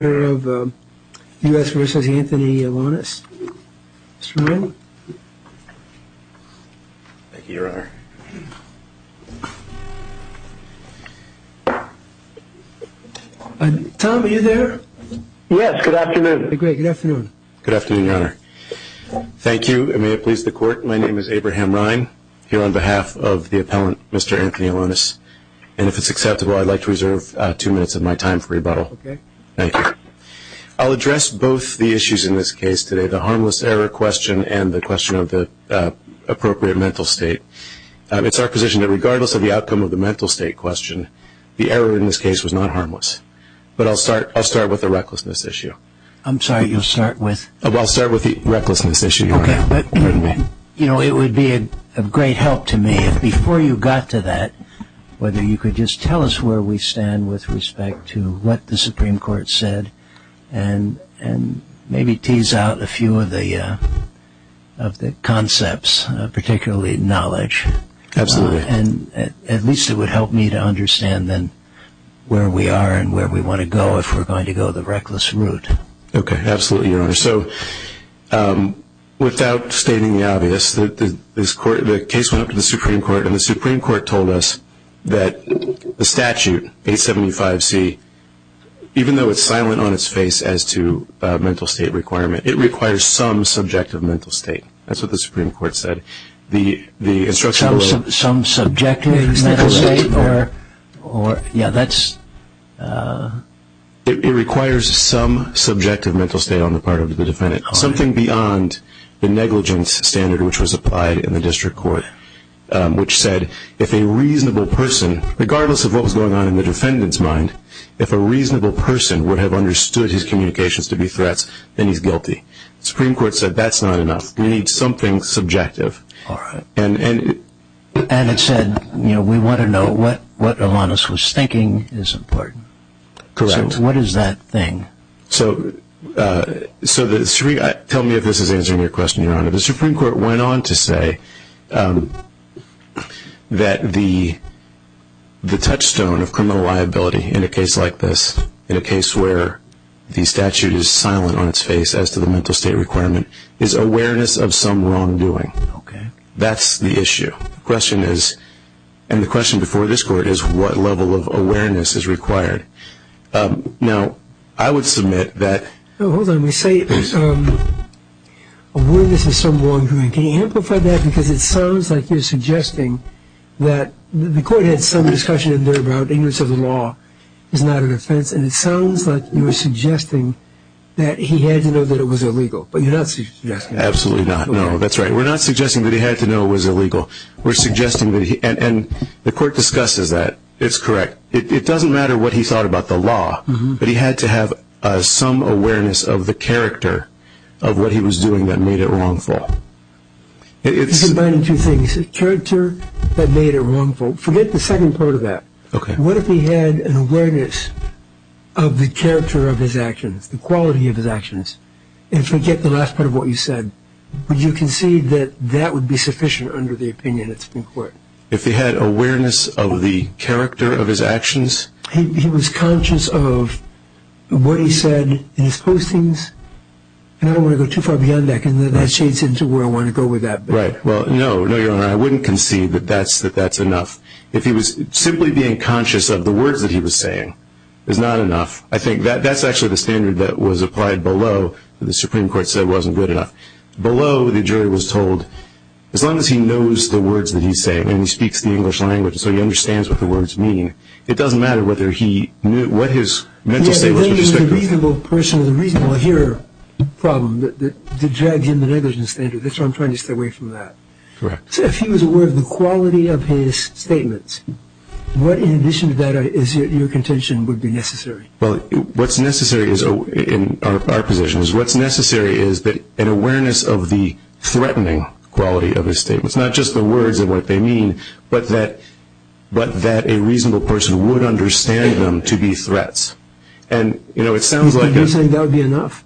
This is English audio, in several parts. of the U.S. v. Anthony Elonis. Mr. Ryan? Thank you, Your Honor. Tom, are you there? Yes, good afternoon. Great, good afternoon. Good afternoon, Your Honor. Thank you, and may it please the Court, my name is Abraham Ryan, here on behalf of the appellant, Mr. Anthony Elonis, and if it's acceptable, I'd like to reserve two minutes of my time for rebuttal. Okay. Thank you. I'll address both the issues in this case today, the harmless error question and the question of the appropriate mental state. It's our position that regardless of the outcome of the mental state question, the error in this case was not harmless. But I'll start with the recklessness issue. I'm sorry, you'll start with? I'll start with the recklessness issue, Your Honor. Okay, but, you know, it would be of great help to me if before you got to that, whether you could just tell us where we stand with respect to what the Supreme Court said and maybe tease out a few of the concepts, particularly knowledge. Absolutely. And at least it would help me to understand then where we are and where we want to go if we're going to go the reckless route. Okay, absolutely, Your Honor. So without stating the obvious, the case went up to the Supreme Court, and the Supreme Court told us that the statute, 875C, even though it's silent on its face as to mental state requirement, it requires some subjective mental state. That's what the Supreme Court said. Some subjective mental state? Yeah, that's. It requires some subjective mental state on the part of the defendant, something beyond the negligence standard which was applied in the district court, which said if a reasonable person, regardless of what was going on in the defendant's mind, if a reasonable person would have understood his communications to be threats, then he's guilty. The Supreme Court said that's not enough. You need something subjective. All right. And it said, you know, we want to know what Alanis was thinking is important. Correct. So what is that thing? So tell me if this is answering your question, Your Honor. The Supreme Court went on to say that the touchstone of criminal liability in a case like this, in a case where the statute is silent on its face as to the mental state requirement, is awareness of some wrongdoing. Okay. That's the issue. The question is, and the question before this Court is, what level of awareness is required? Now, I would submit that. Hold on. We say awareness of some wrongdoing. Can you amplify that? Because it sounds like you're suggesting that the Court had some discussion in there about ignorance of the law is not an offense, and it sounds like you were suggesting that he had to know that it was illegal, but you're not suggesting that. Absolutely not. No, that's right. We're not suggesting that he had to know it was illegal. We're suggesting that he, and the Court discusses that. It's correct. It doesn't matter what he thought about the law, but he had to have some awareness of the character of what he was doing that made it wrongful. Combining two things, character that made it wrongful. Forget the second part of that. Okay. What if he had an awareness of the character of his actions, the quality of his actions, and forget the last part of what you said, would you concede that that would be sufficient under the opinion of the Supreme Court? If he had awareness of the character of his actions? He was conscious of what he said in his postings, and I don't want to go too far beyond that because that shades into where I want to go with that. Right. Well, no. No, Your Honor, I wouldn't concede that that's enough. If he was simply being conscious of the words that he was saying is not enough. I think that's actually the standard that was applied below that the Supreme Court said wasn't good enough. Below the jury was told, as long as he knows the words that he's saying, and he speaks the English language so he understands what the words mean, it doesn't matter whether he knew what his mental state was. The reasonable person, the reasonable hearer problem that drags in the negligence standard. That's why I'm trying to stay away from that. Correct. So if he was aware of the quality of his statements, what in addition to that is your contention would be necessary? Well, what's necessary in our position is what's necessary is an awareness of the threatening quality of his statements. Not just the words and what they mean, but that a reasonable person would understand them to be threats. And, you know, it sounds like... You're saying that would be enough?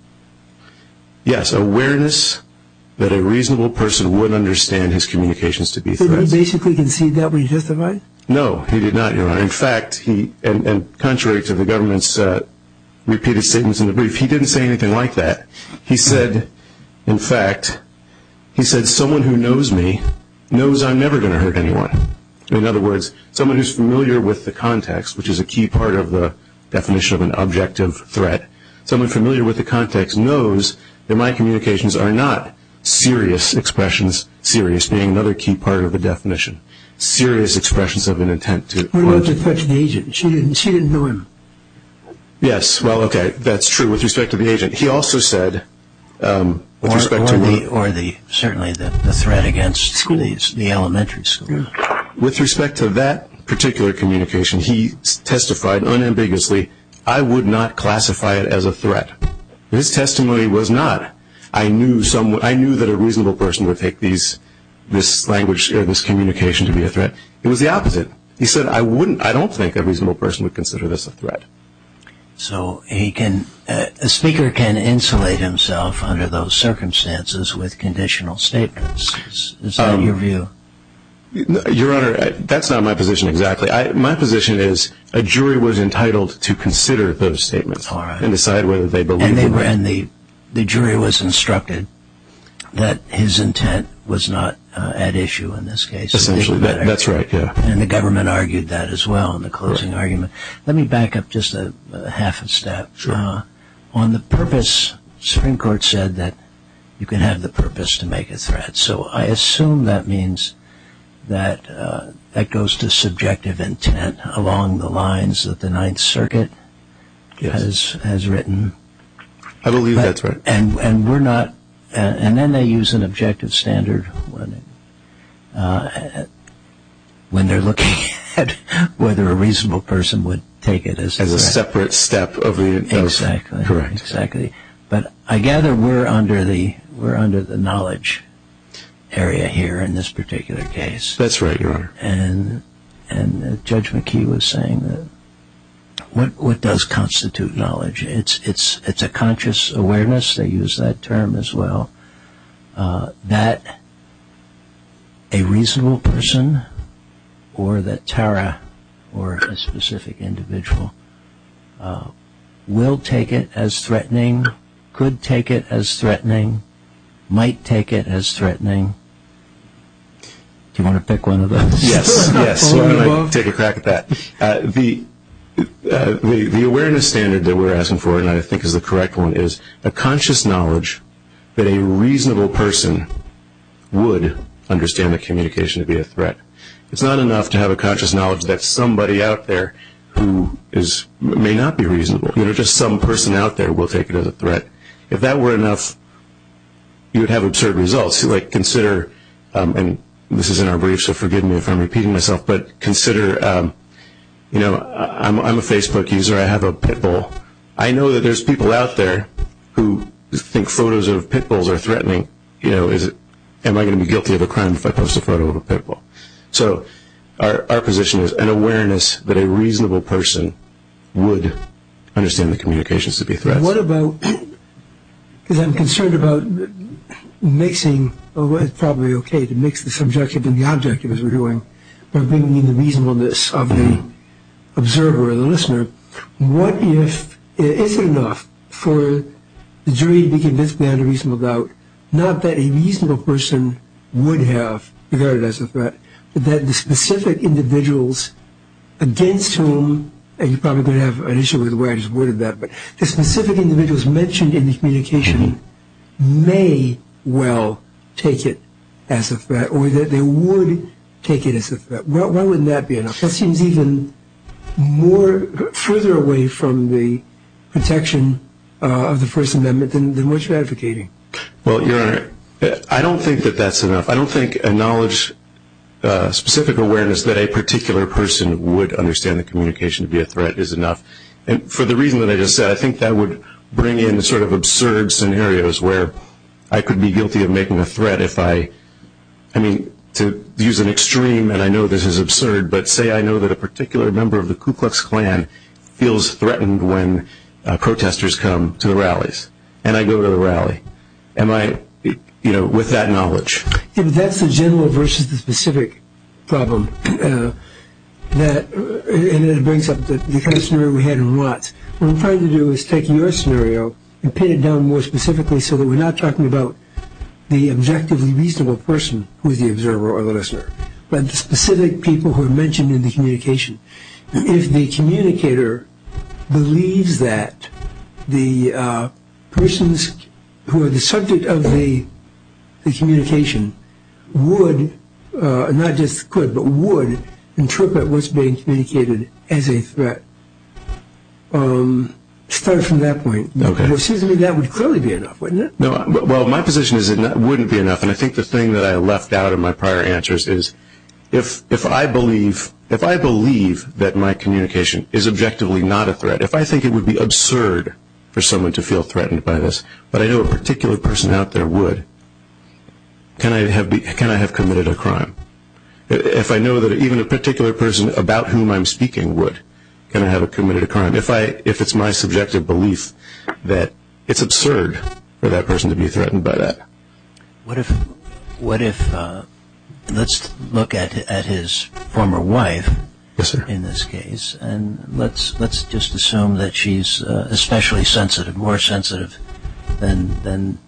Yes, awareness that a reasonable person would understand his communications to be threats. So he basically conceded that when he justified? No, he did not, Your Honor. In fact, and contrary to the government's repeated statements in the brief, he didn't say anything like that. He said, in fact, he said someone who knows me knows I'm never going to hurt anyone. In other words, someone who's familiar with the context, which is a key part of the definition of an objective threat, someone familiar with the context knows that my communications are not serious expressions, serious being another key part of the definition, serious expressions of an intent to... What about the threatening agent? She didn't know him. Yes, well, okay, that's true with respect to the agent. He also said, with respect to... Or certainly the threat against the elementary school. With respect to that particular communication, he testified unambiguously, I would not classify it as a threat. His testimony was not. I knew that a reasonable person would take this language or this communication to be a threat. It was the opposite. He said, I don't think a reasonable person would consider this a threat. So a speaker can insulate himself under those circumstances with conditional statements. Is that your view? Your Honor, that's not my position exactly. My position is a jury was entitled to consider those statements and decide whether they believed them. And the jury was instructed that his intent was not at issue in this case. Essentially, that's right. And the government argued that as well in the closing argument. Let me back up just a half a step. On the purpose, Supreme Court said that you can have the purpose to make a threat. So I assume that means that that goes to subjective intent along the lines that the Ninth Circuit has written. I believe that's right. And then they use an objective standard when they're looking at whether a reasonable person would take it as a threat. As a separate step. Exactly. Correct. Exactly. But I gather we're under the knowledge area here in this particular case. That's right, Your Honor. And Judge McKee was saying that what does constitute knowledge? It's a conscious awareness. They use that term as well. That a reasonable person or that Tara or a specific individual will take it as threatening, could take it as threatening, might take it as threatening. Do you want to pick one of those? Yes. Take a crack at that. The awareness standard that we're asking for, and I think is the correct one, is a conscious knowledge that a reasonable person would understand the communication to be a threat. It's not enough to have a conscious knowledge that somebody out there who may not be reasonable, just some person out there will take it as a threat. If that were enough, you would have absurd results. And this is in our brief, so forgive me if I'm repeating myself. But consider, you know, I'm a Facebook user. I have a pit bull. I know that there's people out there who think photos of pit bulls are threatening. You know, am I going to be guilty of a crime if I post a photo of a pit bull? So our position is an awareness that a reasonable person would understand the communication to be a threat. What about, because I'm concerned about mixing, or it's probably okay to mix the subjective and the objective as we're doing, but bringing in the reasonableness of the observer or the listener. What if it isn't enough for the jury to be convinced we had a reasonable doubt, not that a reasonable person would have regarded it as a threat, but that the specific individuals against whom, and you're probably going to have an issue with the way I just worded that, but the specific individuals mentioned in the communication may well take it as a threat or that they would take it as a threat. Why wouldn't that be enough? That seems even further away from the protection of the First Amendment than what you're advocating. Well, Your Honor, I don't think that that's enough. I don't think a knowledge, specific awareness, that a particular person would understand the communication to be a threat is enough. And for the reason that I just said, I think that would bring in sort of absurd scenarios where I could be guilty of making a threat if I, I mean, to use an extreme, and I know this is absurd, but say I know that a particular member of the Ku Klux Klan feels threatened when protesters come to the rallies, and I go to the rally. Am I, you know, with that knowledge? Yeah, but that's the general versus the specific problem that, and it brings up the kind of scenario we had in Watts. What I'm trying to do is take your scenario and pin it down more specifically so that we're not talking about the objectively reasonable person who is the observer or the listener, but the specific people who are mentioned in the communication. If the communicator believes that the persons who are the subject of the communication would, not just could, but would interpret what's being communicated as a threat, start from that point, it seems to me that would clearly be enough, wouldn't it? Well, my position is it wouldn't be enough, and I think the thing that I left out in my prior answers is, if I believe that my communication is objectively not a threat, if I think it would be absurd for someone to feel threatened by this, but I know a particular person out there would, can I have committed a crime? If I know that even a particular person about whom I'm speaking would, can I have committed a crime? If it's my subjective belief that it's absurd for that person to be threatened by that. What if, let's look at his former wife in this case, and let's just assume that she's especially sensitive, more sensitive than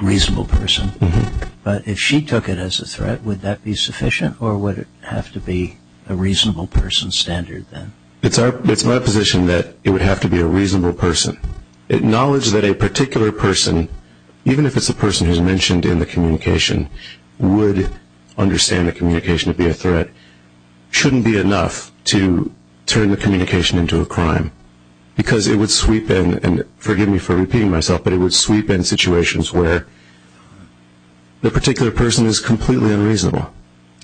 a reasonable person, but if she took it as a threat, would that be sufficient, or would it have to be a reasonable person standard then? It's my position that it would have to be a reasonable person. Acknowledge that a particular person, even if it's a person who's mentioned in the communication, would understand the communication to be a threat, shouldn't be enough to turn the communication into a crime, because it would sweep in, and forgive me for repeating myself, but it would sweep in situations where the particular person is completely unreasonable.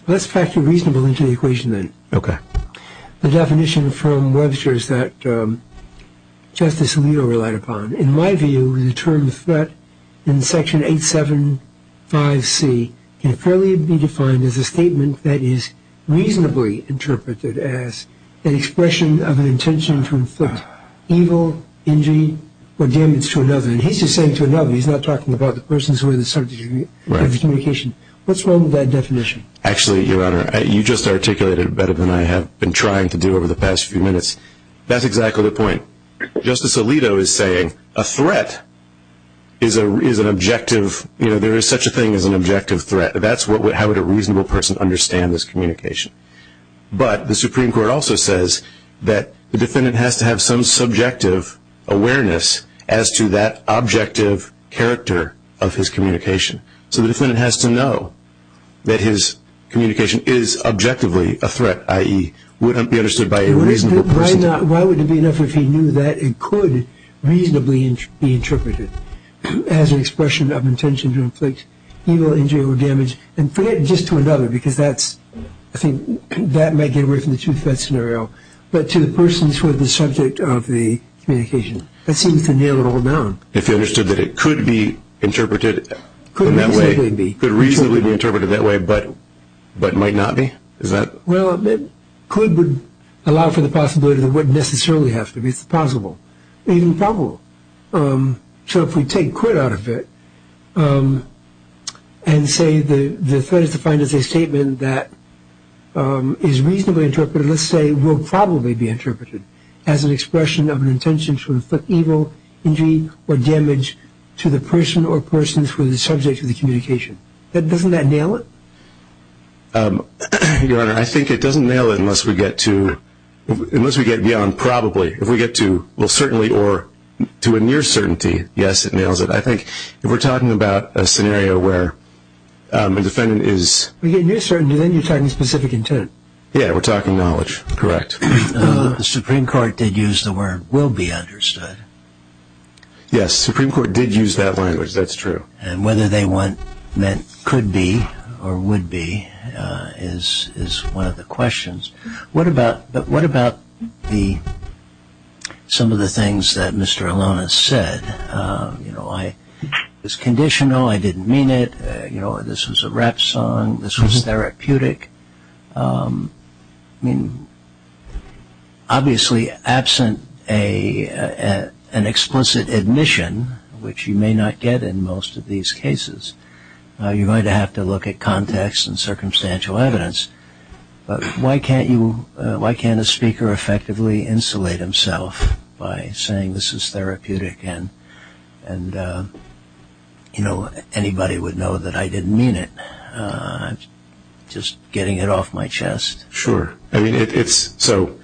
Let's factor reasonable into the equation then. Okay. The definition from Webster's that Justice Alito relied upon, in my view, the term threat in Section 875C can fairly be defined as a statement that is reasonably interpreted as an expression of an intention to inflict evil, injury, or damage to another. And he's just saying to another. He's not talking about the persons who are in the subject of the communication. What's wrong with that definition? Actually, Your Honor, you just articulated it better than I have been trying to do over the past few minutes. That's exactly the point. Justice Alito is saying a threat is an objective, you know, there is such a thing as an objective threat. That's how would a reasonable person understand this communication. But the Supreme Court also says that the defendant has to have some subjective awareness as to that objective character of his communication. So the defendant has to know that his communication is objectively a threat, i.e., would be understood by a reasonable person. Why wouldn't it be enough if he knew that it could reasonably be interpreted as an expression of intention to inflict evil, injury, or damage, and forget just to another because that's, I think, that might get away from the two-threat scenario. But to the persons who are the subject of the communication, that seems to nail it all down. If you understood that it could be interpreted in that way, could reasonably be interpreted that way, but might not be? Well, could would allow for the possibility that it wouldn't necessarily have to be. It's possible, even probable. So if we take quit out of it and say the threat is defined as a statement that is reasonably interpreted, but let's say will probably be interpreted as an expression of an intention to inflict evil, injury, or damage to the person or persons who are the subject of the communication, doesn't that nail it? Your Honor, I think it doesn't nail it unless we get beyond probably. If we get to certainly or to a near certainty, yes, it nails it. I think if we're talking about a scenario where a defendant is... We get near certainty, then you're talking specific intent. Yeah, we're talking knowledge, correct. The Supreme Court did use the word will be understood. Yes, Supreme Court did use that language, that's true. And whether they meant could be or would be is one of the questions. What about some of the things that Mr. Alonis said? You know, I was conditional, I didn't mean it. You know, this was a rap song, this was therapeutic. I mean, obviously absent an explicit admission, which you may not get in most of these cases, you're going to have to look at context and circumstantial evidence. But why can't a speaker effectively insulate himself by saying this is therapeutic and, you know, anybody would know that I didn't mean it. I'm just getting it off my chest. Sure. So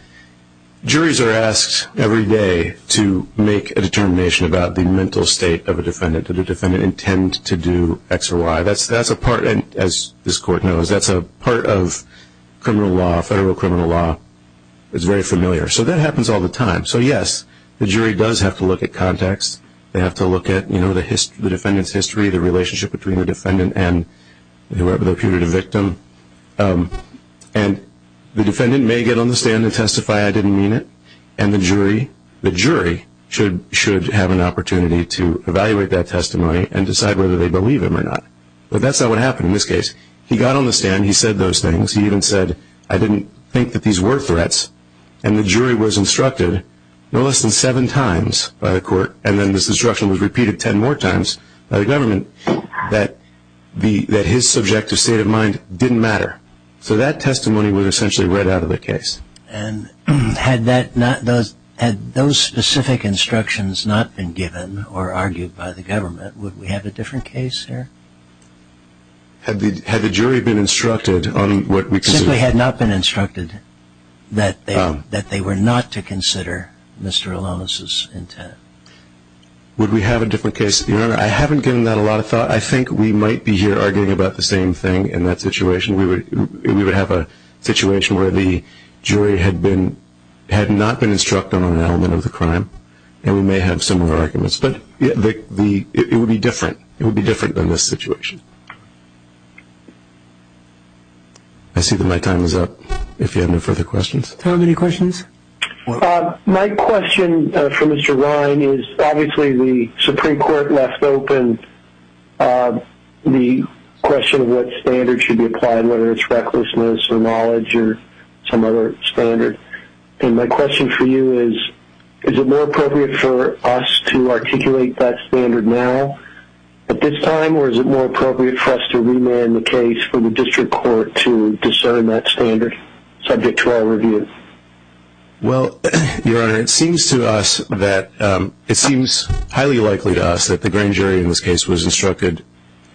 juries are asked every day to make a determination about the mental state of a defendant. Did the defendant intend to do X or Y? Yeah, that's a part, as this court knows, that's a part of criminal law, federal criminal law. It's very familiar. So that happens all the time. So, yes, the jury does have to look at context. They have to look at, you know, the defendant's history, the relationship between the defendant and whoever deputed a victim. And the defendant may get on the stand and testify I didn't mean it, and the jury should have an opportunity to evaluate that testimony and decide whether they believe him or not. But that's not what happened in this case. He got on the stand. He said those things. He even said I didn't think that these were threats. And the jury was instructed no less than seven times by the court, and then this instruction was repeated ten more times by the government, that his subjective state of mind didn't matter. So that testimony was essentially read out of the case. And had those specific instructions not been given or argued by the government, would we have a different case here? Had the jury been instructed on what we considered? Simply had not been instructed that they were not to consider Mr. Alonzo's intent. Would we have a different case? Your Honor, I haven't given that a lot of thought. I think we might be here arguing about the same thing in that situation. We would have a situation where the jury had not been instructed on an element of the crime, and we may have similar arguments. But it would be different. It would be different than this situation. I see that my time is up, if you have no further questions. Do you have any questions? My question for Mr. Ryan is, obviously the Supreme Court left open the question of what standard should be applied, whether it's recklessness or knowledge or some other standard. And my question for you is, is it more appropriate for us to articulate that standard now at this time, or is it more appropriate for us to remand the case for the district court to discern that standard, subject to our review? Well, Your Honor, it seems to us that it seems highly likely to us that the grand jury in this case was instructed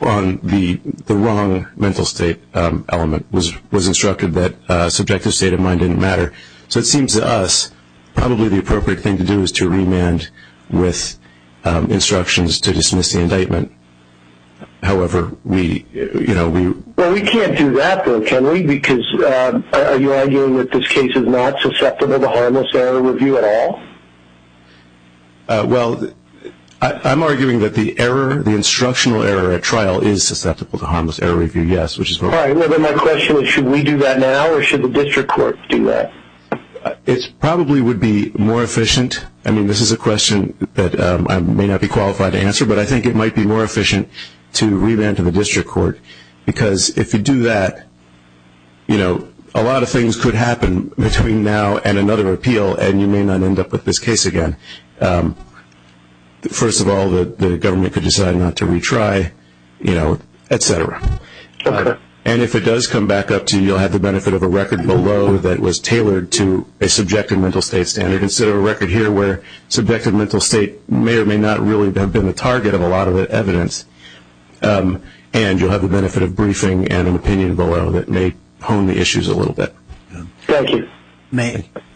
on the wrong mental state element, was instructed that subjective state of mind didn't matter. So it seems to us probably the appropriate thing to do is to remand with instructions to dismiss the indictment. However, we, you know, we... Well, we can't do that though, can we? Because are you arguing that this case is not susceptible to harmless error review at all? Well, I'm arguing that the error, the instructional error at trial is susceptible to harmless error review, yes. All right, well then my question is, should we do that now or should the district court do that? It probably would be more efficient. I mean, this is a question that I may not be qualified to answer, but I think it might be more efficient to remand to the district court. Because if you do that, you know, a lot of things could happen between now and another appeal, and you may not end up with this case again. First of all, the government could decide not to retry, you know, et cetera. And if it does come back up to you, you'll have the benefit of a record below that was tailored to a subjective mental state standard instead of a record here where subjective mental state may or may not really have been the target of a lot of the evidence. And you'll have the benefit of briefing and an opinion below that may hone the issues a little bit. Thank you.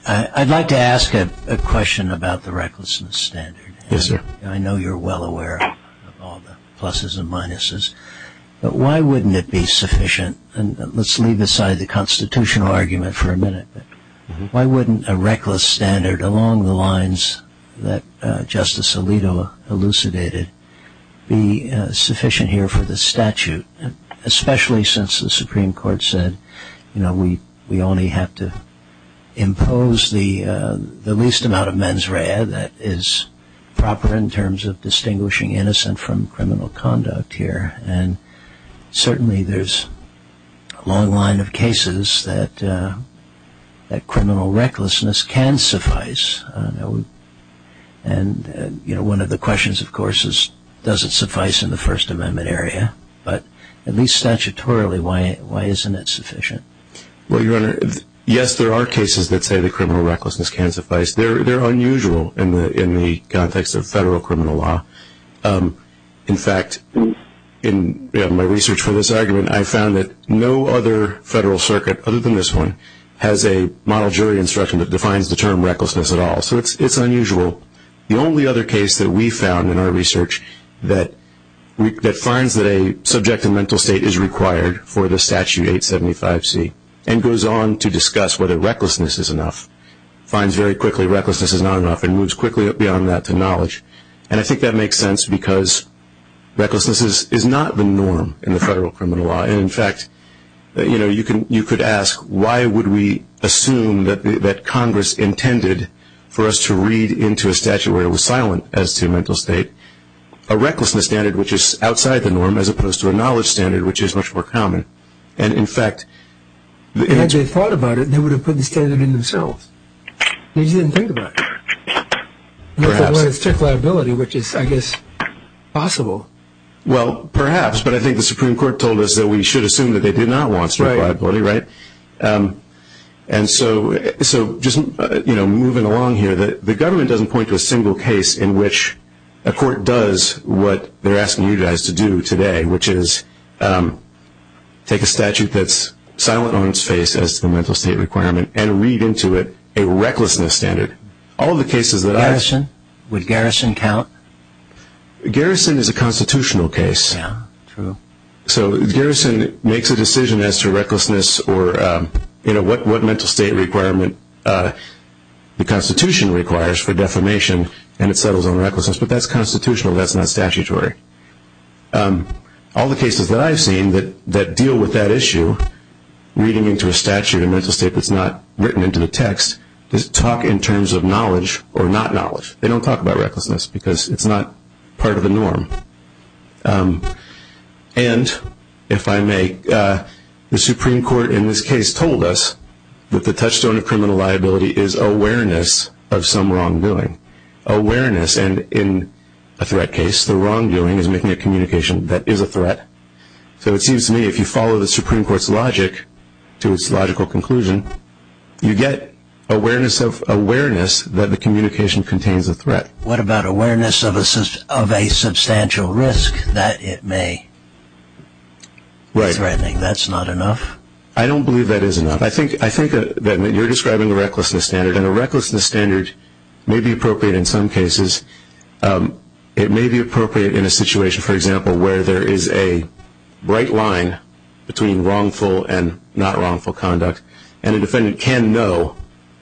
I'd like to ask a question about the recklessness standard. Yes, sir. I know you're well aware of all the pluses and minuses, but why wouldn't it be sufficient, and let's leave aside the constitutional argument for a minute, but why wouldn't a reckless standard along the lines that Justice Alito elucidated be sufficient here for the statute, especially since the Supreme Court said, you know, we only have to impose the least amount of mens rea that is proper in terms of distinguishing innocent from criminal conduct here. And certainly there's a long line of cases that criminal recklessness can suffice. And, you know, one of the questions, of course, is does it suffice in the First Amendment area? But at least statutorily, why isn't it sufficient? Well, Your Honor, yes, there are cases that say that criminal recklessness can suffice. They're unusual in the context of federal criminal law. In fact, in my research for this argument, I found that no other federal circuit other than this one has a model jury instruction that defines the term recklessness at all. So it's unusual. The only other case that we found in our research that finds that a subjective mental state is required for the Statute 875C and goes on to discuss whether recklessness is enough, finds very quickly recklessness is not enough and moves quickly beyond that to knowledge. And I think that makes sense because recklessness is not the norm in the federal criminal law. And, in fact, you know, you could ask why would we assume that Congress intended for us to read into a statute where it was silent as to mental state a recklessness standard, which is outside the norm, as opposed to a knowledge standard, which is much more common. And, in fact, the answer is... Had they thought about it, they would have put the standard in themselves. They just didn't think about it. Perhaps. And they thought about it with strict liability, which is, I guess, possible. Well, perhaps. But I think the Supreme Court told us that we should assume that they did not want strict liability, right? Right. And so just, you know, moving along here, the government doesn't point to a single case in which a court does what they're asking you guys to do today, which is take a statute that's silent on its face as to the mental state requirement and read into it a recklessness standard. All the cases that I... Garrison? Would Garrison count? Garrison is a constitutional case. Yeah, true. So Garrison makes a decision as to recklessness or, you know, what mental state requirement the Constitution requires for defamation, and it settles on recklessness. But that's constitutional. That's not statutory. All the cases that I've seen that deal with that issue, reading into a statute of mental state that's not written into the text, just talk in terms of knowledge or not knowledge. They don't talk about recklessness because it's not part of the norm. And, if I may, the Supreme Court in this case told us that the touchstone of criminal liability is awareness of some wrongdoing. Awareness, and in a threat case, the wrongdoing is making a communication that is a threat. So it seems to me if you follow the Supreme Court's logic to its logical conclusion, you get awareness that the communication contains a threat. What about awareness of a substantial risk that it may be threatening? That's not enough? I don't believe that is enough. I think that you're describing a recklessness standard, and a recklessness standard may be appropriate in some cases. It may be appropriate in a situation, for example, where there is a bright line between wrongful and not wrongful conduct. And a defendant can know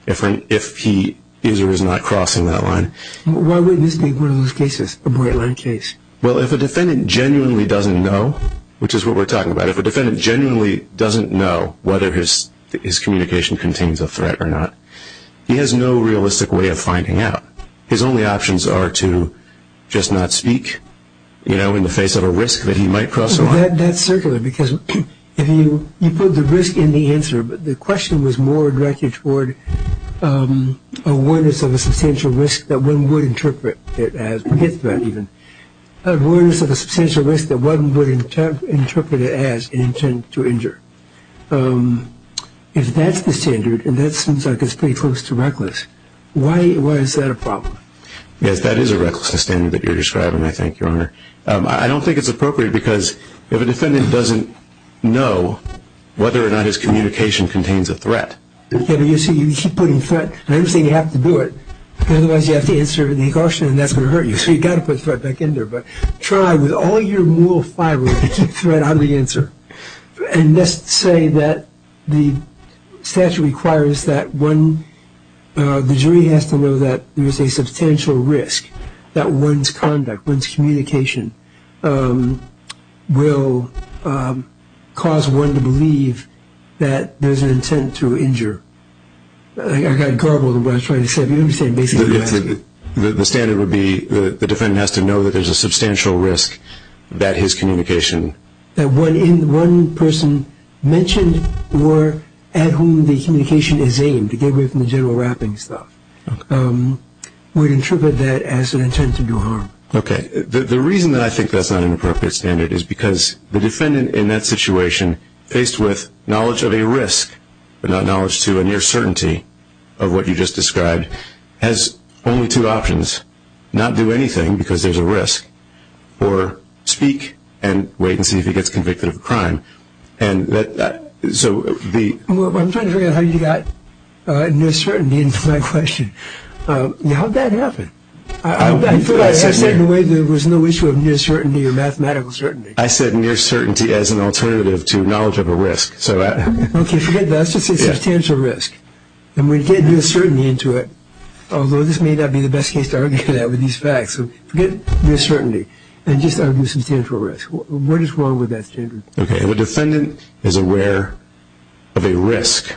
if he is or is not crossing that line. Why wouldn't this be one of those cases, a bright line case? Well, if a defendant genuinely doesn't know, which is what we're talking about, if a defendant genuinely doesn't know whether his communication contains a threat or not, he has no realistic way of finding out. His only options are to just not speak in the face of a risk that he might cross the line. That's circular, because if you put the risk in the answer, but the question was more directed toward awareness of a substantial risk that one would interpret it as. Forget threat, even. Awareness of a substantial risk that one would interpret it as an intent to injure. If that's the standard, and that seems like it's pretty close to reckless, why is that a problem? Yes, that is a recklessness standard that you're describing, I think, Your Honor. I don't think it's appropriate, because if a defendant doesn't know whether or not his communication contains a threat. You keep putting threat. I understand you have to do it, because otherwise you have to answer the caution, and that's going to hurt you. So you've got to put threat back in there. But try, with all your moral fiber, to keep threat out of the answer. And let's say that the statute requires that the jury has to know that there is a substantial risk that one's conduct, one's communication, will cause one to believe that there's an intent to injure. I got garbled in what I was trying to say. The standard would be the defendant has to know that there's a substantial risk that his communication. That one person mentioned or at whom the communication is aimed, to get away from the general wrapping stuff, would interpret that as an intent to do harm. Okay. The reason that I think that's not an appropriate standard is because the defendant in that situation, faced with knowledge of a risk but not knowledge to a near certainty of what you just described, has only two options, not do anything because there's a risk, or speak and wait and see if he gets convicted of a crime. I'm trying to figure out how you got near certainty into my question. How did that happen? I said in a way there was no issue of near certainty or mathematical certainty. I said near certainty as an alternative to knowledge of a risk. Okay. Forget that. That's just a substantial risk. And we get near certainty into it, although this may not be the best case to argue that with these facts. So forget near certainty and just argue substantial risk. What is wrong with that standard? Okay. If a defendant is aware of a risk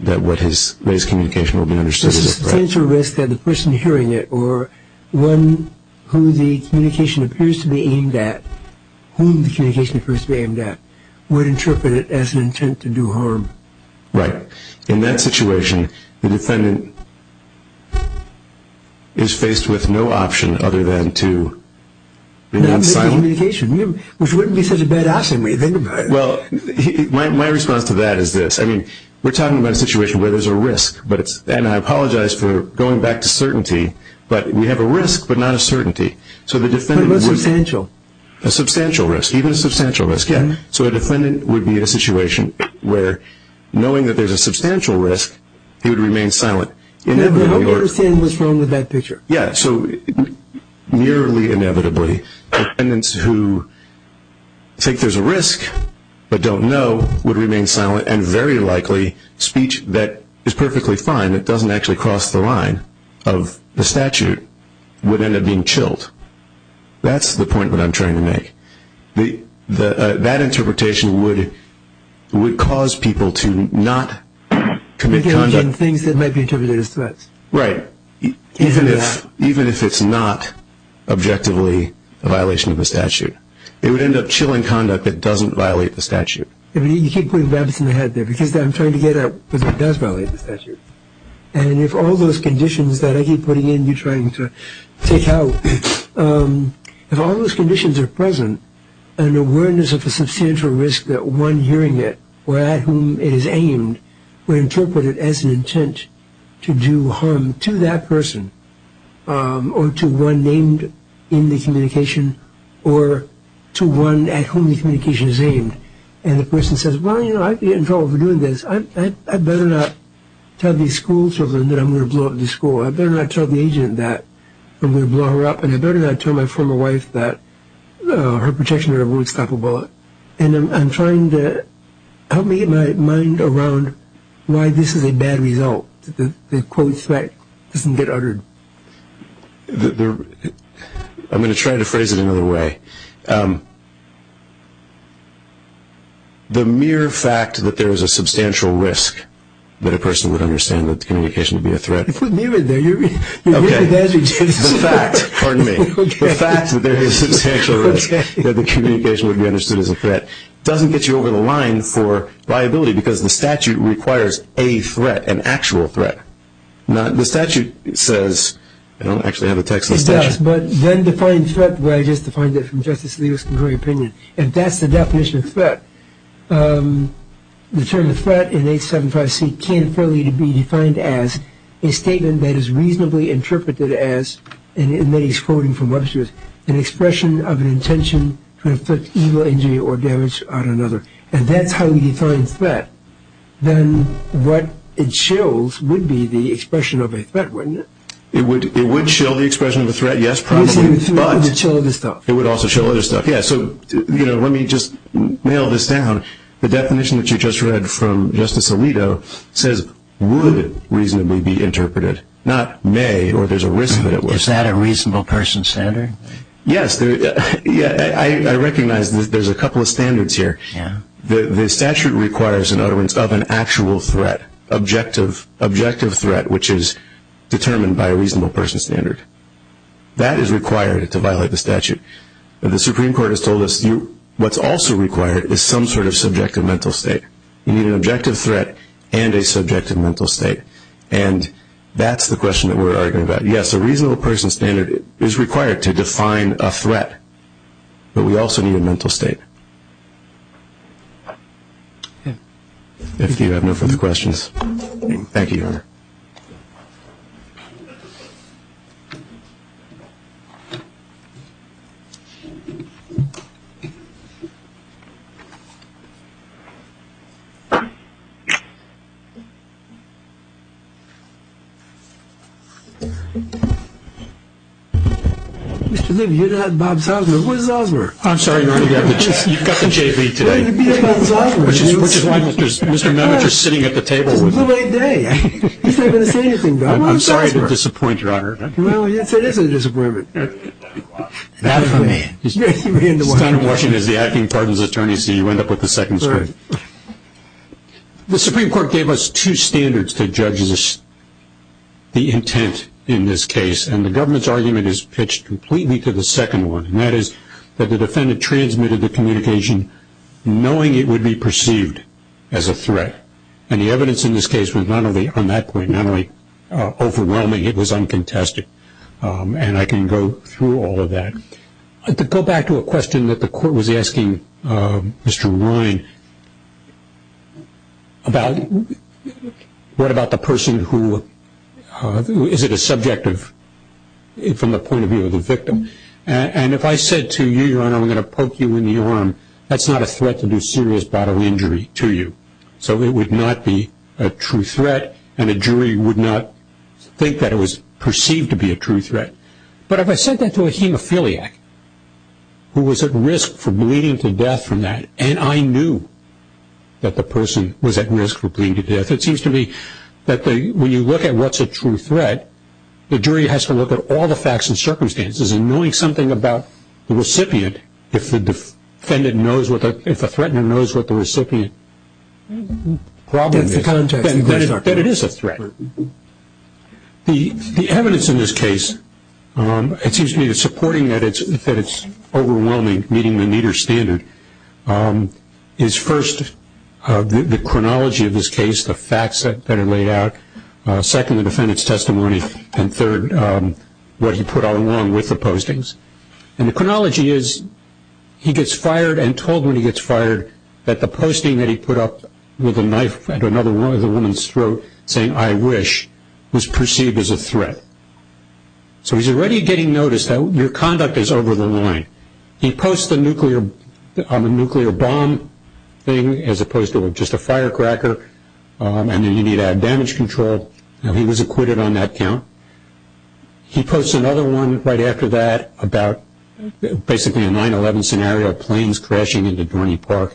that his communication will be understood as a crime. This is a substantial risk that the person hearing it or one who the communication appears to be aimed at, whom the communication appears to be aimed at, would interpret it as an intent to do harm. Right. In that situation, the defendant is faced with no option other than to be non-silent. Not make the communication, which wouldn't be such a bad option. Well, my response to that is this. I mean, we're talking about a situation where there's a risk, and I apologize for going back to certainty, but we have a risk but not a certainty. But it was substantial. A substantial risk. Even a substantial risk, yeah. So a defendant would be in a situation where knowing that there's a substantial risk, he would remain silent. I hope you understand what's wrong with that picture. Yeah. So nearly inevitably, defendants who think there's a risk but don't know would remain silent, and very likely speech that is perfectly fine, that doesn't actually cross the line of the statute, would end up being chilled. That's the point that I'm trying to make. That interpretation would cause people to not commit conduct. Things that might be interpreted as threats. Right. Even if it's not objectively a violation of the statute, it would end up chilling conduct that doesn't violate the statute. You keep putting rabbits in the head there because I'm trying to get at what does violate the statute. And if all those conditions that I keep putting in, you're trying to take out, if all those conditions are present, an awareness of a substantial risk that one hearing it or at whom it is aimed were interpreted as an intent to do harm to that person or to one named in the communication or to one at whom the communication is aimed. And the person says, well, you know, I could get in trouble for doing this. I better not tell these schoolchildren that I'm going to blow up the school. I better not tell the agent that I'm going to blow her up, and I better not tell my former wife that her protection order won't stop a bullet. And I'm trying to help me get my mind around why this is a bad result, that the quote threat doesn't get uttered. I'm going to try to phrase it another way. The mere fact that there is a substantial risk that a person would understand that the communication would be a threat. You put me in there. Okay. The fact. Pardon me. The fact that there is a substantial risk that the communication would be understood as a threat doesn't get you over the line for liability because the statute requires a threat, an actual threat. The statute says, I don't actually have the text of the statute. It does, but then define threat the way I just defined it from Justice Lewis' contrary opinion, and that's the definition of threat. The term threat in 875C can fairly be defined as a statement that is reasonably interpreted as, and then he's quoting from Webster's, an expression of an intention to inflict evil, injury, or damage on another. And that's how we define threat. Then what it shows would be the expression of a threat, wouldn't it? It would show the expression of a threat, yes, probably, but. It would show other stuff. It would also show other stuff, yes. So, you know, let me just nail this down. The definition that you just read from Justice Alito says would reasonably be interpreted, not may or there's a risk that it was. Is that a reasonable person's standard? Yes. I recognize there's a couple of standards here. The statute requires, in other words, of an actual threat, objective threat, which is determined by a reasonable person's standard. That is required to violate the statute. The Supreme Court has told us what's also required is some sort of subjective mental state. You need an objective threat and a subjective mental state, and that's the question that we're arguing about. Yes, a reasonable person's standard is required to define a threat, but we also need a mental state. If you have no further questions. Thank you, Your Honor. Mr. Libby, you're not Bob Salzberg. Where's Salzberg? I'm sorry, Your Honor. You've got the JV today, which is why Mr. Nemitz is sitting at the table. It's a late day. He's not going to say anything, Bob. I'm sorry to disappoint, Your Honor. Well, yes, it is a disappointment. Not for me. He ran away. This time in Washington is the acting pardon's attorney, so you end up with the second straight. The Supreme Court gave us two standards to judge the intent in this case, and the government's argument is pitched completely to the second one, and that is that the defendant transmitted the communication knowing it would be perceived as a threat, and the evidence in this case was not only on that point, not only overwhelming, it was uncontested, and I can go through all of that. To go back to a question that the court was asking Mr. Ryan about what about the person who is it a subjective, from the point of view of the victim, and if I said to you, Your Honor, I'm going to poke you in the arm, that's not a threat to do serious bodily injury to you, so it would not be a true threat, and a jury would not think that it was perceived to be a true threat, but if I sent that to a hemophiliac who was at risk for bleeding to death from that, and I knew that the person was at risk for bleeding to death, it seems to me that when you look at what's a true threat, the jury has to look at all the facts and circumstances, and knowing something about the recipient, if the defendant knows, if the threatener knows what the recipient's problem is, then it is a threat. The evidence in this case, it seems to me, in supporting that it's overwhelming, meeting the meter standard, is first the chronology of this case, the facts that are laid out, second, the defendant's testimony, and third, what he put along with the postings. The chronology is he gets fired and told when he gets fired that the posting that he put up with a knife at another woman's throat saying, I wish, was perceived as a threat. So he's already getting notice that your conduct is over the line. He posts the nuclear bomb thing as opposed to just a firecracker, and then you need to have damage control, and he was acquitted on that count. He posts another one right after that about basically a 9-11 scenario, planes crashing into Dorney Park,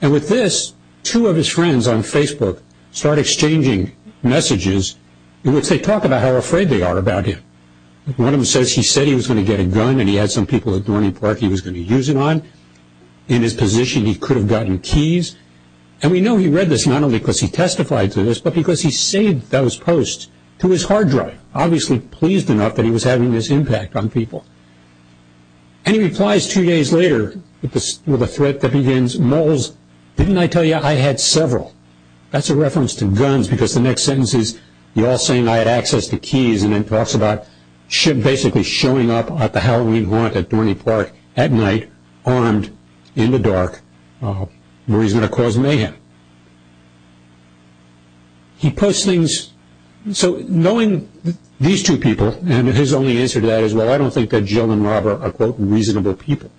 and with this, two of his friends on Facebook start exchanging messages in which they talk about how afraid they are about him. One of them says he said he was going to get a gun and he had some people at Dorney Park he was going to use it on. In his position, he could have gotten keys. And we know he read this not only because he testified to this, but because he saved those posts to his hard drive, obviously pleased enough that he was having this impact on people. And he replies two days later with a threat that begins, Moles, didn't I tell you I had several? That's a reference to guns because the next sentence is, y'all saying I had access to keys, and then talks about basically showing up at the Halloween haunt at Dorney Park at night, armed, in the dark, where he's going to cause mayhem. So knowing these two people, and his only answer to that is, well, I don't think that Jill and Robert are quote reasonable people.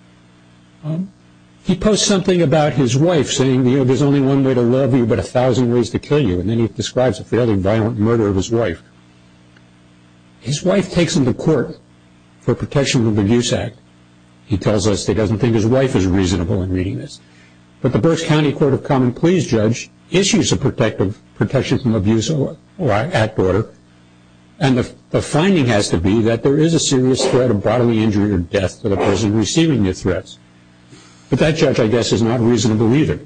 He posts something about his wife saying, you know, there's only one way to love you but a thousand ways to kill you. And then he describes a fairly violent murder of his wife. His wife takes him to court for protection of abuse act. He tells us he doesn't think his wife is reasonable in reading this. But the Berks County Court of Common Pleas judge issues a protection from abuse act order, and the finding has to be that there is a serious threat of bodily injury or death to the person receiving the threats. But that judge, I guess, is not reasonable either.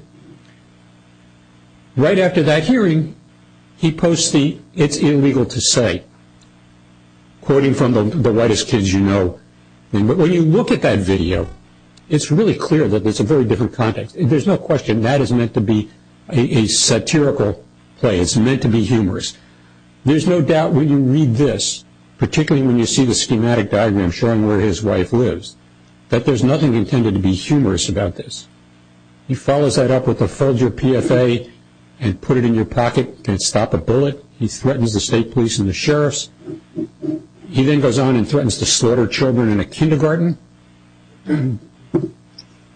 Right after that hearing, he posts the, it's illegal to say, quoting from the whitest kids you know. When you look at that video, it's really clear that it's a very different context. There's no question that is meant to be a satirical play. It's meant to be humorous. There's no doubt when you read this, particularly when you see the schematic diagram showing where his wife lives, that there's nothing intended to be humorous about this. He follows that up with a folder PFA and put it in your pocket and stop a bullet. He threatens the state police and the sheriffs. He then goes on and threatens to slaughter children in a kindergarten.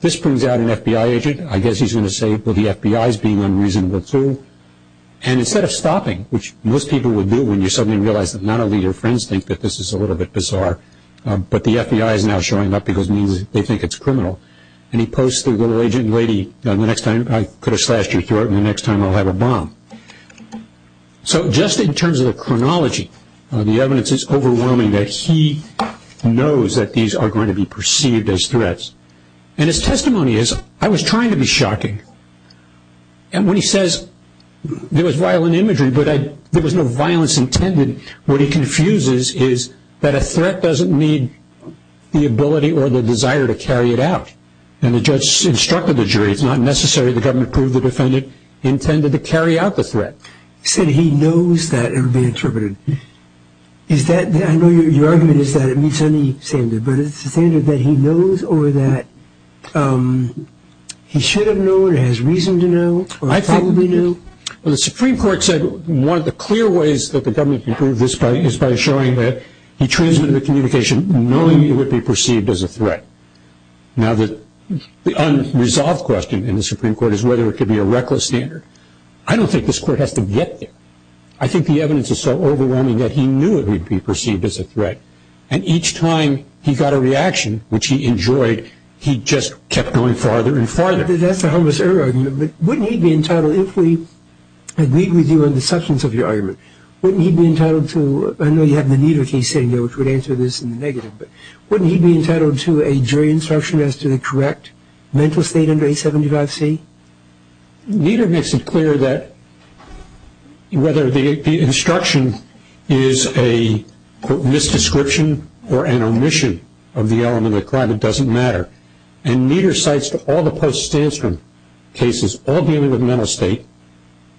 This brings out an FBI agent. I guess he's going to say, well, the FBI is being unreasonable too. And instead of stopping, which most people would do when you suddenly realize that that this is a little bit bizarre. But the FBI is now showing up because they think it's criminal. And he posts the little agent lady, the next time I could have slashed your throat and the next time I'll have a bomb. So just in terms of the chronology, the evidence is overwhelming that he knows that these are going to be perceived as threats. And his testimony is, I was trying to be shocking. And when he says there was violent imagery, but there was no violence intended, what he confuses is that a threat doesn't mean the ability or the desire to carry it out. And the judge instructed the jury it's not necessary. The government proved the defendant intended to carry out the threat. He said he knows that it would be interpreted. I know your argument is that it meets any standard, but is it a standard that he knows or that he should have known or has reason to know or probably knew? Well, the Supreme Court said one of the clear ways that the government can prove this is by showing that he transmitted the communication knowing it would be perceived as a threat. Now, the unresolved question in the Supreme Court is whether it could be a reckless standard. I don't think this court has to get there. I think the evidence is so overwhelming that he knew it would be perceived as a threat. And each time he got a reaction, which he enjoyed, he just kept going farther and farther. That's a harmless error argument. But wouldn't he be entitled, if we agree with you on the substance of your argument, wouldn't he be entitled to, I know you have the Nieder case sitting there, which would answer this in the negative, but wouldn't he be entitled to a jury instruction as to the correct mental state under 875C? Nieder makes it clear that whether the instruction is a misdescription or an omission of the element of the crime, it doesn't matter. And Nieder cites all the post-Stanstrom cases, all dealing with mental state,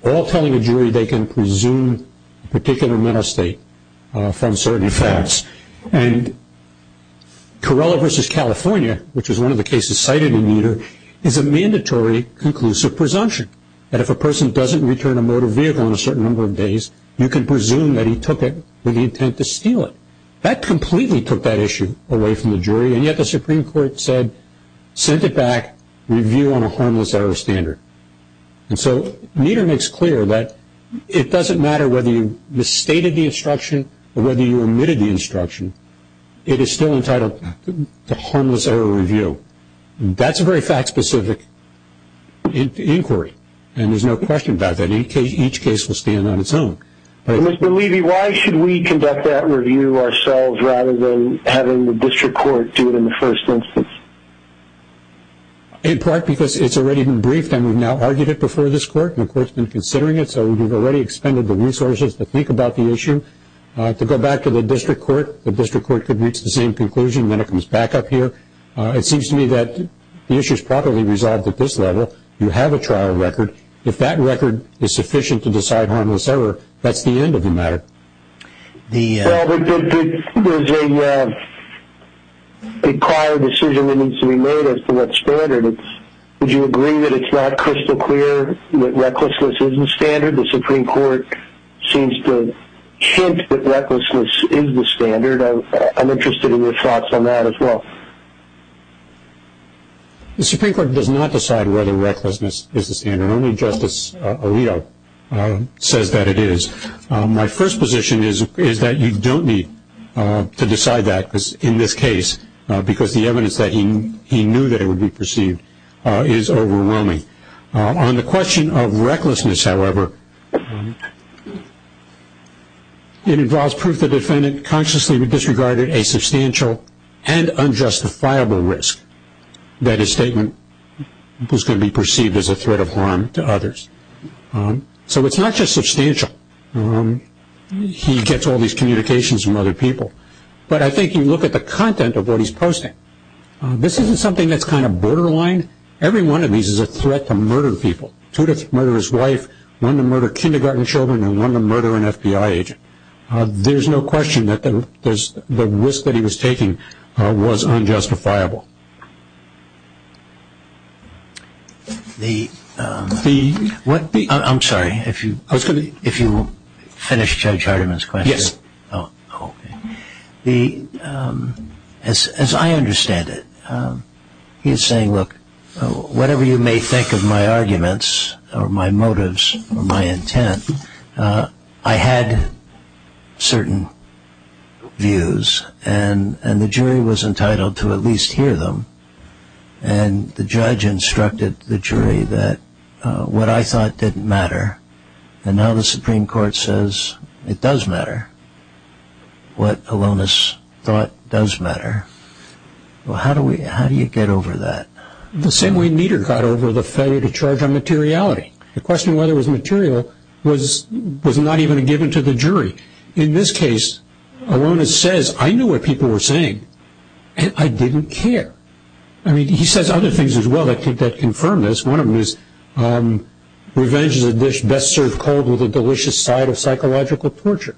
all telling a jury they can presume a particular mental state from certain facts. And Torello v. California, which is one of the cases cited in Nieder, is a mandatory conclusive presumption that if a person doesn't return a motor vehicle in a certain number of days, you can presume that he took it with the intent to steal it. That completely took that issue away from the jury, and yet the Supreme Court said, sent it back, review on a harmless error standard. And so Nieder makes clear that it doesn't matter whether you misstated the instruction or whether you omitted the instruction, it is still entitled to harmless error review. That's a very fact-specific inquiry, and there's no question about that. Each case will stand on its own. Mr. Levy, why should we conduct that review ourselves rather than having the district court do it in the first instance? In part because it's already been briefed, and we've now argued it before this court, and the court's been considering it, so we've already expended the resources to think about the issue. To go back to the district court, the district court could reach the same conclusion, then it comes back up here. It seems to me that the issue is properly resolved at this level. You have a trial record. If that record is sufficient to decide harmless error, that's the end of the matter. Well, there's a prior decision that needs to be made as to what's standard. Would you agree that it's not crystal clear that recklessness isn't standard? The Supreme Court seems to hint that recklessness is the standard. I'm interested in your thoughts on that as well. The Supreme Court does not decide whether recklessness is the standard. Only Justice Alito says that it is. My first position is that you don't need to decide that in this case because the evidence that he knew that it would be perceived is overwhelming. On the question of recklessness, however, it involves proof the defendant consciously disregarded a substantial and unjustifiable risk that his statement was going to be perceived as a threat of harm to others. So it's not just substantial. He gets all these communications from other people. But I think you look at the content of what he's posting. This isn't something that's kind of borderline. Every one of these is a threat to murder people. Two to murder his wife, one to murder kindergarten children, and one to murder an FBI agent. There's no question that the risk that he was taking was unjustifiable. I'm sorry, if you will finish Judge Hardiman's question. Yes. As I understand it, he is saying, look, whatever you may think of my arguments or my motives or my intent, I had certain views and the jury was entitled to at least hear them. And the judge instructed the jury that what I thought didn't matter. And now the Supreme Court says it does matter. What Alonis thought does matter. Well, how do you get over that? The same way Nieder got over the failure to charge on materiality. The question of whether it was material was not even given to the jury. In this case, Alonis says, I knew what people were saying and I didn't care. I mean, he says other things as well that confirm this. One of them is revenge is a dish best served cold with a delicious side of psychological torture.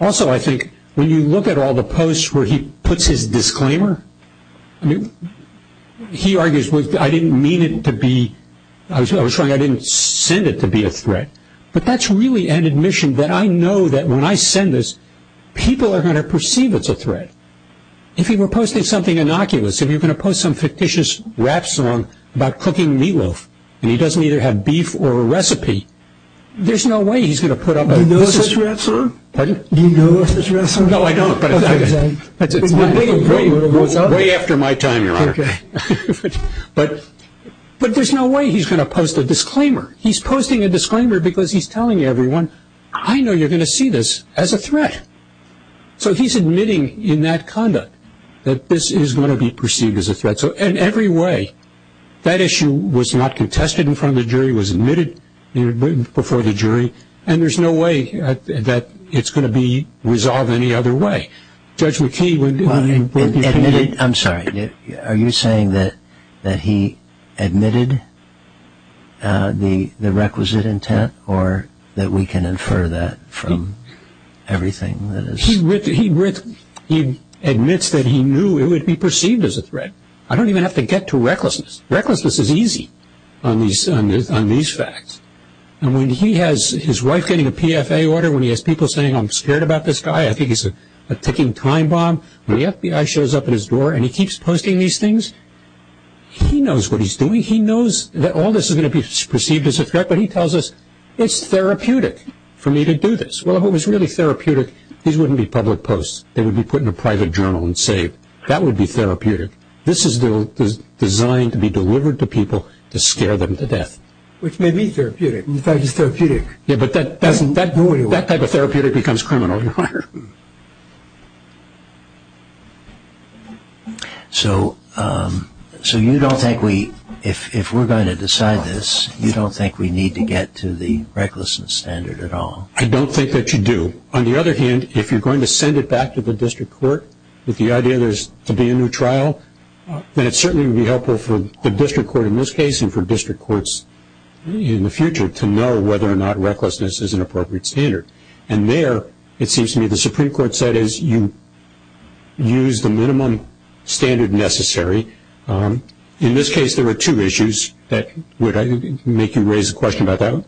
Also, I think when you look at all the posts where he puts his disclaimer, he argues, I didn't mean it to be, I was trying, I didn't send it to be a threat. But that's really an admission that I know that when I send this, people are going to perceive it's a threat. If he were posting something innocuous, if you're going to post some fictitious rap song about cooking meatloaf and he doesn't either have beef or a recipe, there's no way he's going to put up with it. Do you know this rap song? Pardon? Do you know this rap song? No, I don't. But it's way after my time, Your Honor. Okay. But there's no way he's going to post a disclaimer. He's posting a disclaimer because he's telling everyone, I know you're going to see this as a threat. So he's admitting in that conduct that this is going to be perceived as a threat. So in every way, that issue was not contested in front of the jury, was admitted before the jury, and there's no way that it's going to be resolved any other way. Judge McKee, what do you think? I'm sorry. Are you saying that he admitted the requisite intent or that we can infer that from everything that is? He admits that he knew it would be perceived as a threat. I don't even have to get to recklessness. Recklessness is easy on these facts. And when he has his wife getting a PFA order, when he has people saying, I'm scared about this guy, I think he's a ticking time bomb. When the FBI shows up at his door and he keeps posting these things, he knows what he's doing. He knows that all this is going to be perceived as a threat, but he tells us it's therapeutic for me to do this. Well, if it was really therapeutic, these wouldn't be public posts. They would be put in a private journal and saved. That would be therapeutic. This is designed to be delivered to people to scare them to death. Which may be therapeutic. In fact, it's therapeutic. But that type of therapeutic becomes criminal. So you don't think we, if we're going to decide this, you don't think we need to get to the recklessness standard at all? I don't think that you do. On the other hand, if you're going to send it back to the district court with the idea that there's going to be a new trial, then it certainly would be helpful for the district court in this case in the future to know whether or not recklessness is an appropriate standard. And there, it seems to me the Supreme Court said is you use the minimum standard necessary. In this case, there were two issues that would make you raise a question about that.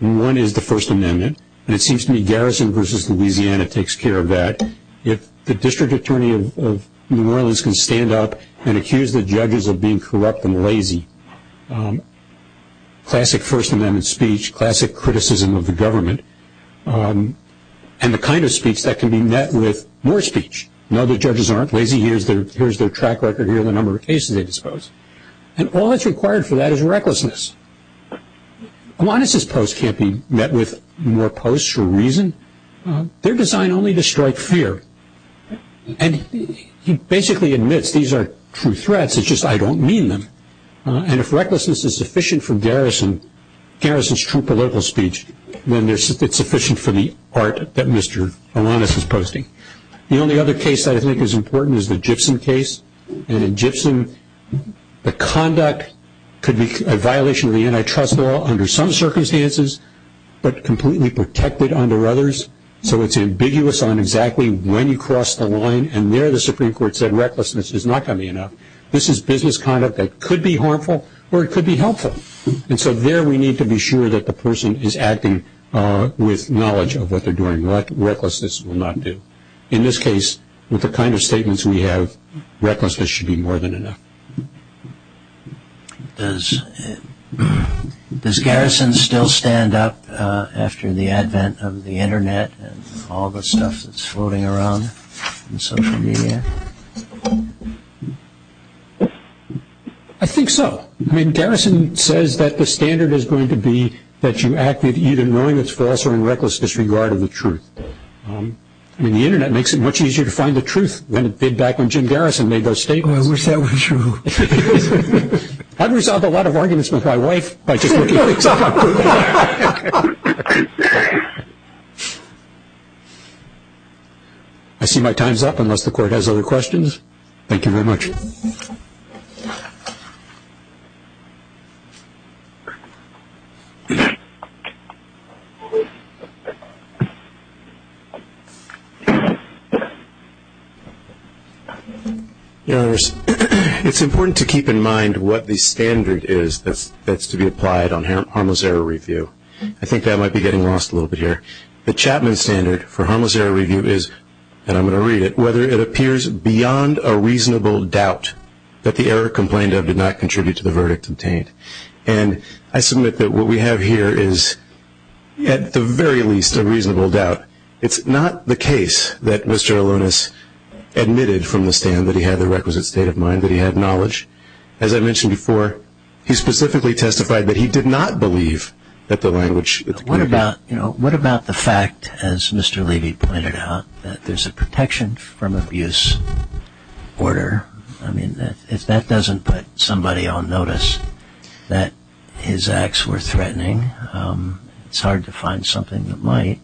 One is the First Amendment. And it seems to me Garrison v. Louisiana takes care of that. If the district attorney of New Orleans can stand up and accuse the judges of being corrupt and lazy, classic First Amendment speech, classic criticism of the government, and the kind of speech that can be met with more speech. No, the judges aren't lazy. Here's their track record. Here are the number of cases they disposed. And all that's required for that is recklessness. Iwannis' posts can't be met with more posts for a reason. They're designed only to strike fear. And he basically admits these are true threats. It's just I don't mean them. And if recklessness is sufficient for Garrison's true political speech, then it's sufficient for the art that Mr. Iwannis is posting. The only other case I think is important is the Gibson case. And in Gibson, the conduct could be a violation of the antitrust law under some circumstances, but completely protected under others. So it's ambiguous on exactly when you cross the line. And there the Supreme Court said recklessness is not going to be enough. This is business conduct that could be harmful or it could be helpful. And so there we need to be sure that the person is acting with knowledge of what they're doing. Recklessness will not do. In this case, with the kind of statements we have, recklessness should be more than enough. Does Garrison still stand up after the advent of the Internet and all the stuff that's floating around in social media? I think so. I mean Garrison says that the standard is going to be that you act with either knowing it's false or in reckless disregard of the truth. I mean the Internet makes it much easier to find the truth than it did back when Jim Garrison made those statements. Oh, I wish that were true. I've resolved a lot of arguments with my wife by just looking things up on Google. I see my time's up unless the Court has other questions. Thank you very much. Thank you. Your Honors, it's important to keep in mind what the standard is that's to be applied on harmless error review. I think that might be getting lost a little bit here. The Chapman standard for harmless error review is, and I'm going to read it, whether it appears beyond a reasonable doubt that the error complained of did not contribute to the verdict obtained. And I submit that what we have here is, at the very least, a reasonable doubt. It's not the case that Mr. Alonis admitted from the stand that he had the requisite state of mind, that he had knowledge. As I mentioned before, he specifically testified that he did not believe that the language… What about the fact, as Mr. Levy pointed out, that there's a protection from abuse order? I mean, if that doesn't put somebody on notice that his acts were threatening, it's hard to find something that might.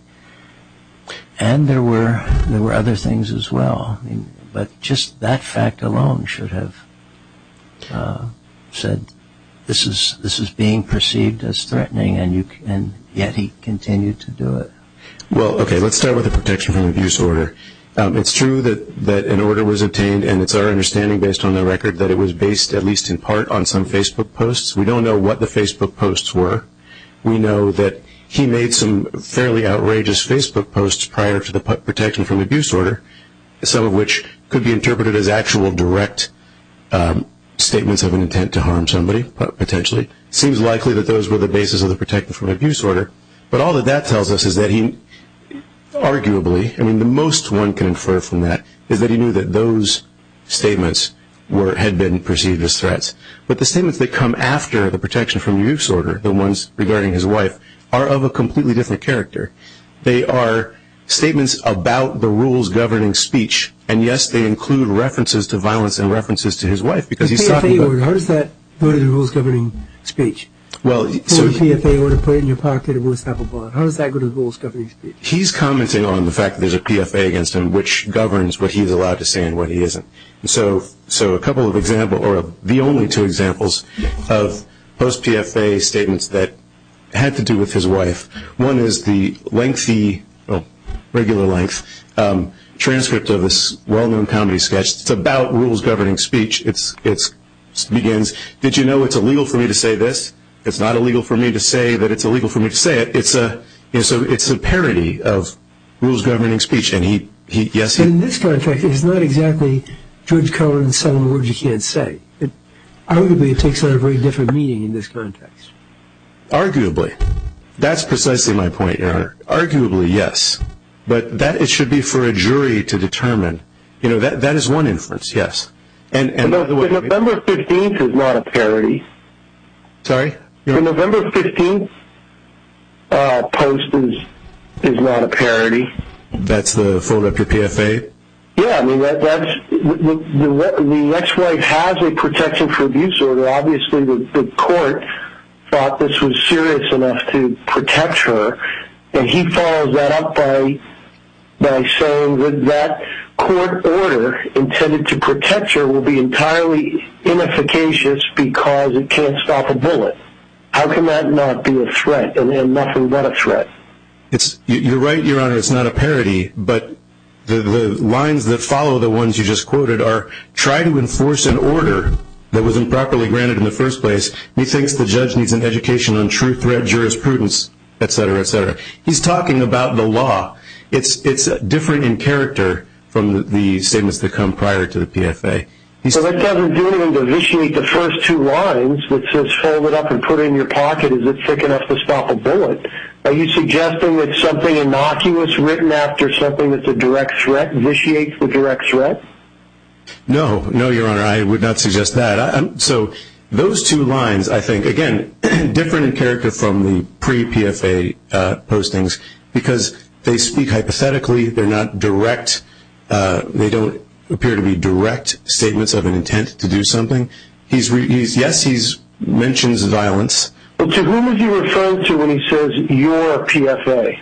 And there were other things as well. But just that fact alone should have said this is being perceived as threatening, and yet he continued to do it. Well, okay, let's start with the protection from abuse order. It's true that an order was obtained, and it's our understanding, based on the record, that it was based at least in part on some Facebook posts. We don't know what the Facebook posts were. We know that he made some fairly outrageous Facebook posts prior to the protection from abuse order. Some of which could be interpreted as actual direct statements of an intent to harm somebody, potentially. It seems likely that those were the basis of the protection from abuse order. But all that that tells us is that he arguably… I mean, the most one can infer from that is that he knew that those statements had been perceived as threats. But the statements that come after the protection from abuse order, the ones regarding his wife, are of a completely different character. They are statements about the rules governing speech. And, yes, they include references to violence and references to his wife, because he's talking about… The PFA order, how does that go to the rules governing speech? Well, so… The PFA order, put it in your pocket, and we'll snap a bond. How does that go to the rules governing speech? He's commenting on the fact that there's a PFA against him, which governs what he's allowed to say and what he isn't. So a couple of examples, or the only two examples, of post-PFA statements that had to do with his wife. One is the lengthy, well, regular length, transcript of this well-known comedy sketch. It's about rules governing speech. It begins, did you know it's illegal for me to say this? It's not illegal for me to say that it's illegal for me to say it. It's a parody of rules governing speech. And he, yes, he… In this context, it's not exactly George Cohen and some of the words you can't say. Arguably, it takes on a very different meaning in this context. Arguably. That's precisely my point, Your Honor. Arguably, yes. But that, it should be for a jury to determine. You know, that is one inference, yes. And by the way… The November 15th is not a parody. Sorry? The November 15th post is not a parody. That's the, fold up your PFA? Yeah, I mean, that's, the ex-wife has a protection for abuse order. Obviously, the court thought this was serious enough to protect her. And he follows that up by saying that court order intended to protect her will be entirely inefficacious because it can't stop a bullet. How can that not be a threat? And nothing but a threat. You're right, Your Honor, it's not a parody. But the lines that follow the ones you just quoted are, try to enforce an order that was improperly granted in the first place. He thinks the judge needs an education on true threat jurisprudence, et cetera, et cetera. He's talking about the law. It's different in character from the statements that come prior to the PFA. So that doesn't do anything to initiate the first two lines that says, fold it up and put it in your pocket. Is it thick enough to stop a bullet? Are you suggesting that something innocuous written after something that's a direct threat initiates the direct threat? No. No, Your Honor, I would not suggest that. So those two lines, I think, again, different in character from the pre-PFA postings because they speak hypothetically. They're not direct. They don't appear to be direct statements of an intent to do something. Yes, he mentions violence. But to whom is he referring to when he says your PFA?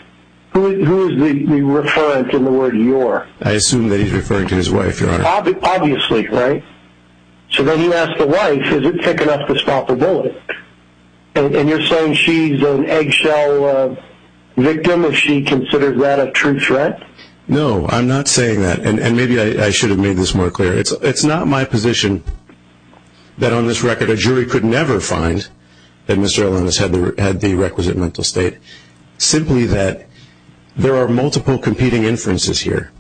Who is he referring to in the word your? I assume that he's referring to his wife, Your Honor. Obviously, right? So then you ask the wife, is it thick enough to stop a bullet? And you're saying she's an eggshell victim if she considers that a true threat? No, I'm not saying that. And maybe I should have made this more clear. It's not my position that on this record a jury could never find that Mr. Ellin has had the requisite mental state, simply that there are multiple competing inferences here.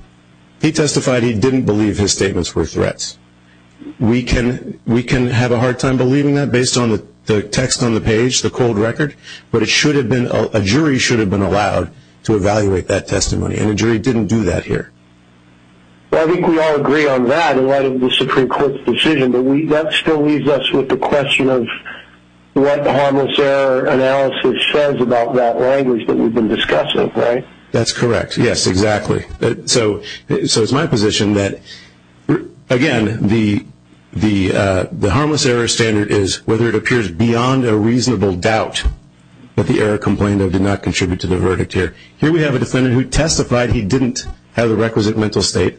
He testified he didn't believe his statements were threats. We can have a hard time believing that based on the text on the page, the cold record, but a jury should have been allowed to evaluate that testimony, and a jury didn't do that here. Well, I think we all agree on that in light of the Supreme Court's decision, but that still leaves us with the question of what the harmless error analysis says about that language that we've been discussing, right? That's correct. Yes, exactly. So it's my position that, again, the harmless error standard is whether it appears beyond a reasonable doubt that the error complained of did not contribute to the verdict here. Here we have a defendant who testified he didn't have the requisite mental state,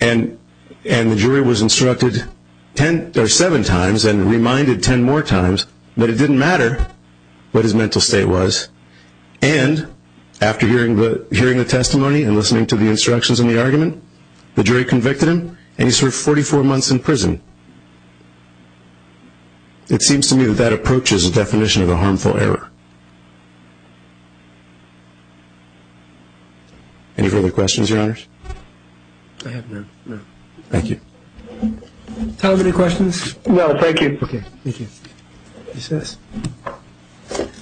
and the jury was instructed seven times and reminded ten more times that it didn't matter what his mental state was, and after hearing the testimony and listening to the instructions in the argument, the jury convicted him, and he served 44 months in prison. It seems to me that that approach is a definition of a harmful error. Any further questions, Your Honors? I have none, no. Thank you. Time for any questions? No, thank you. Okay, thank you. Yes, sir.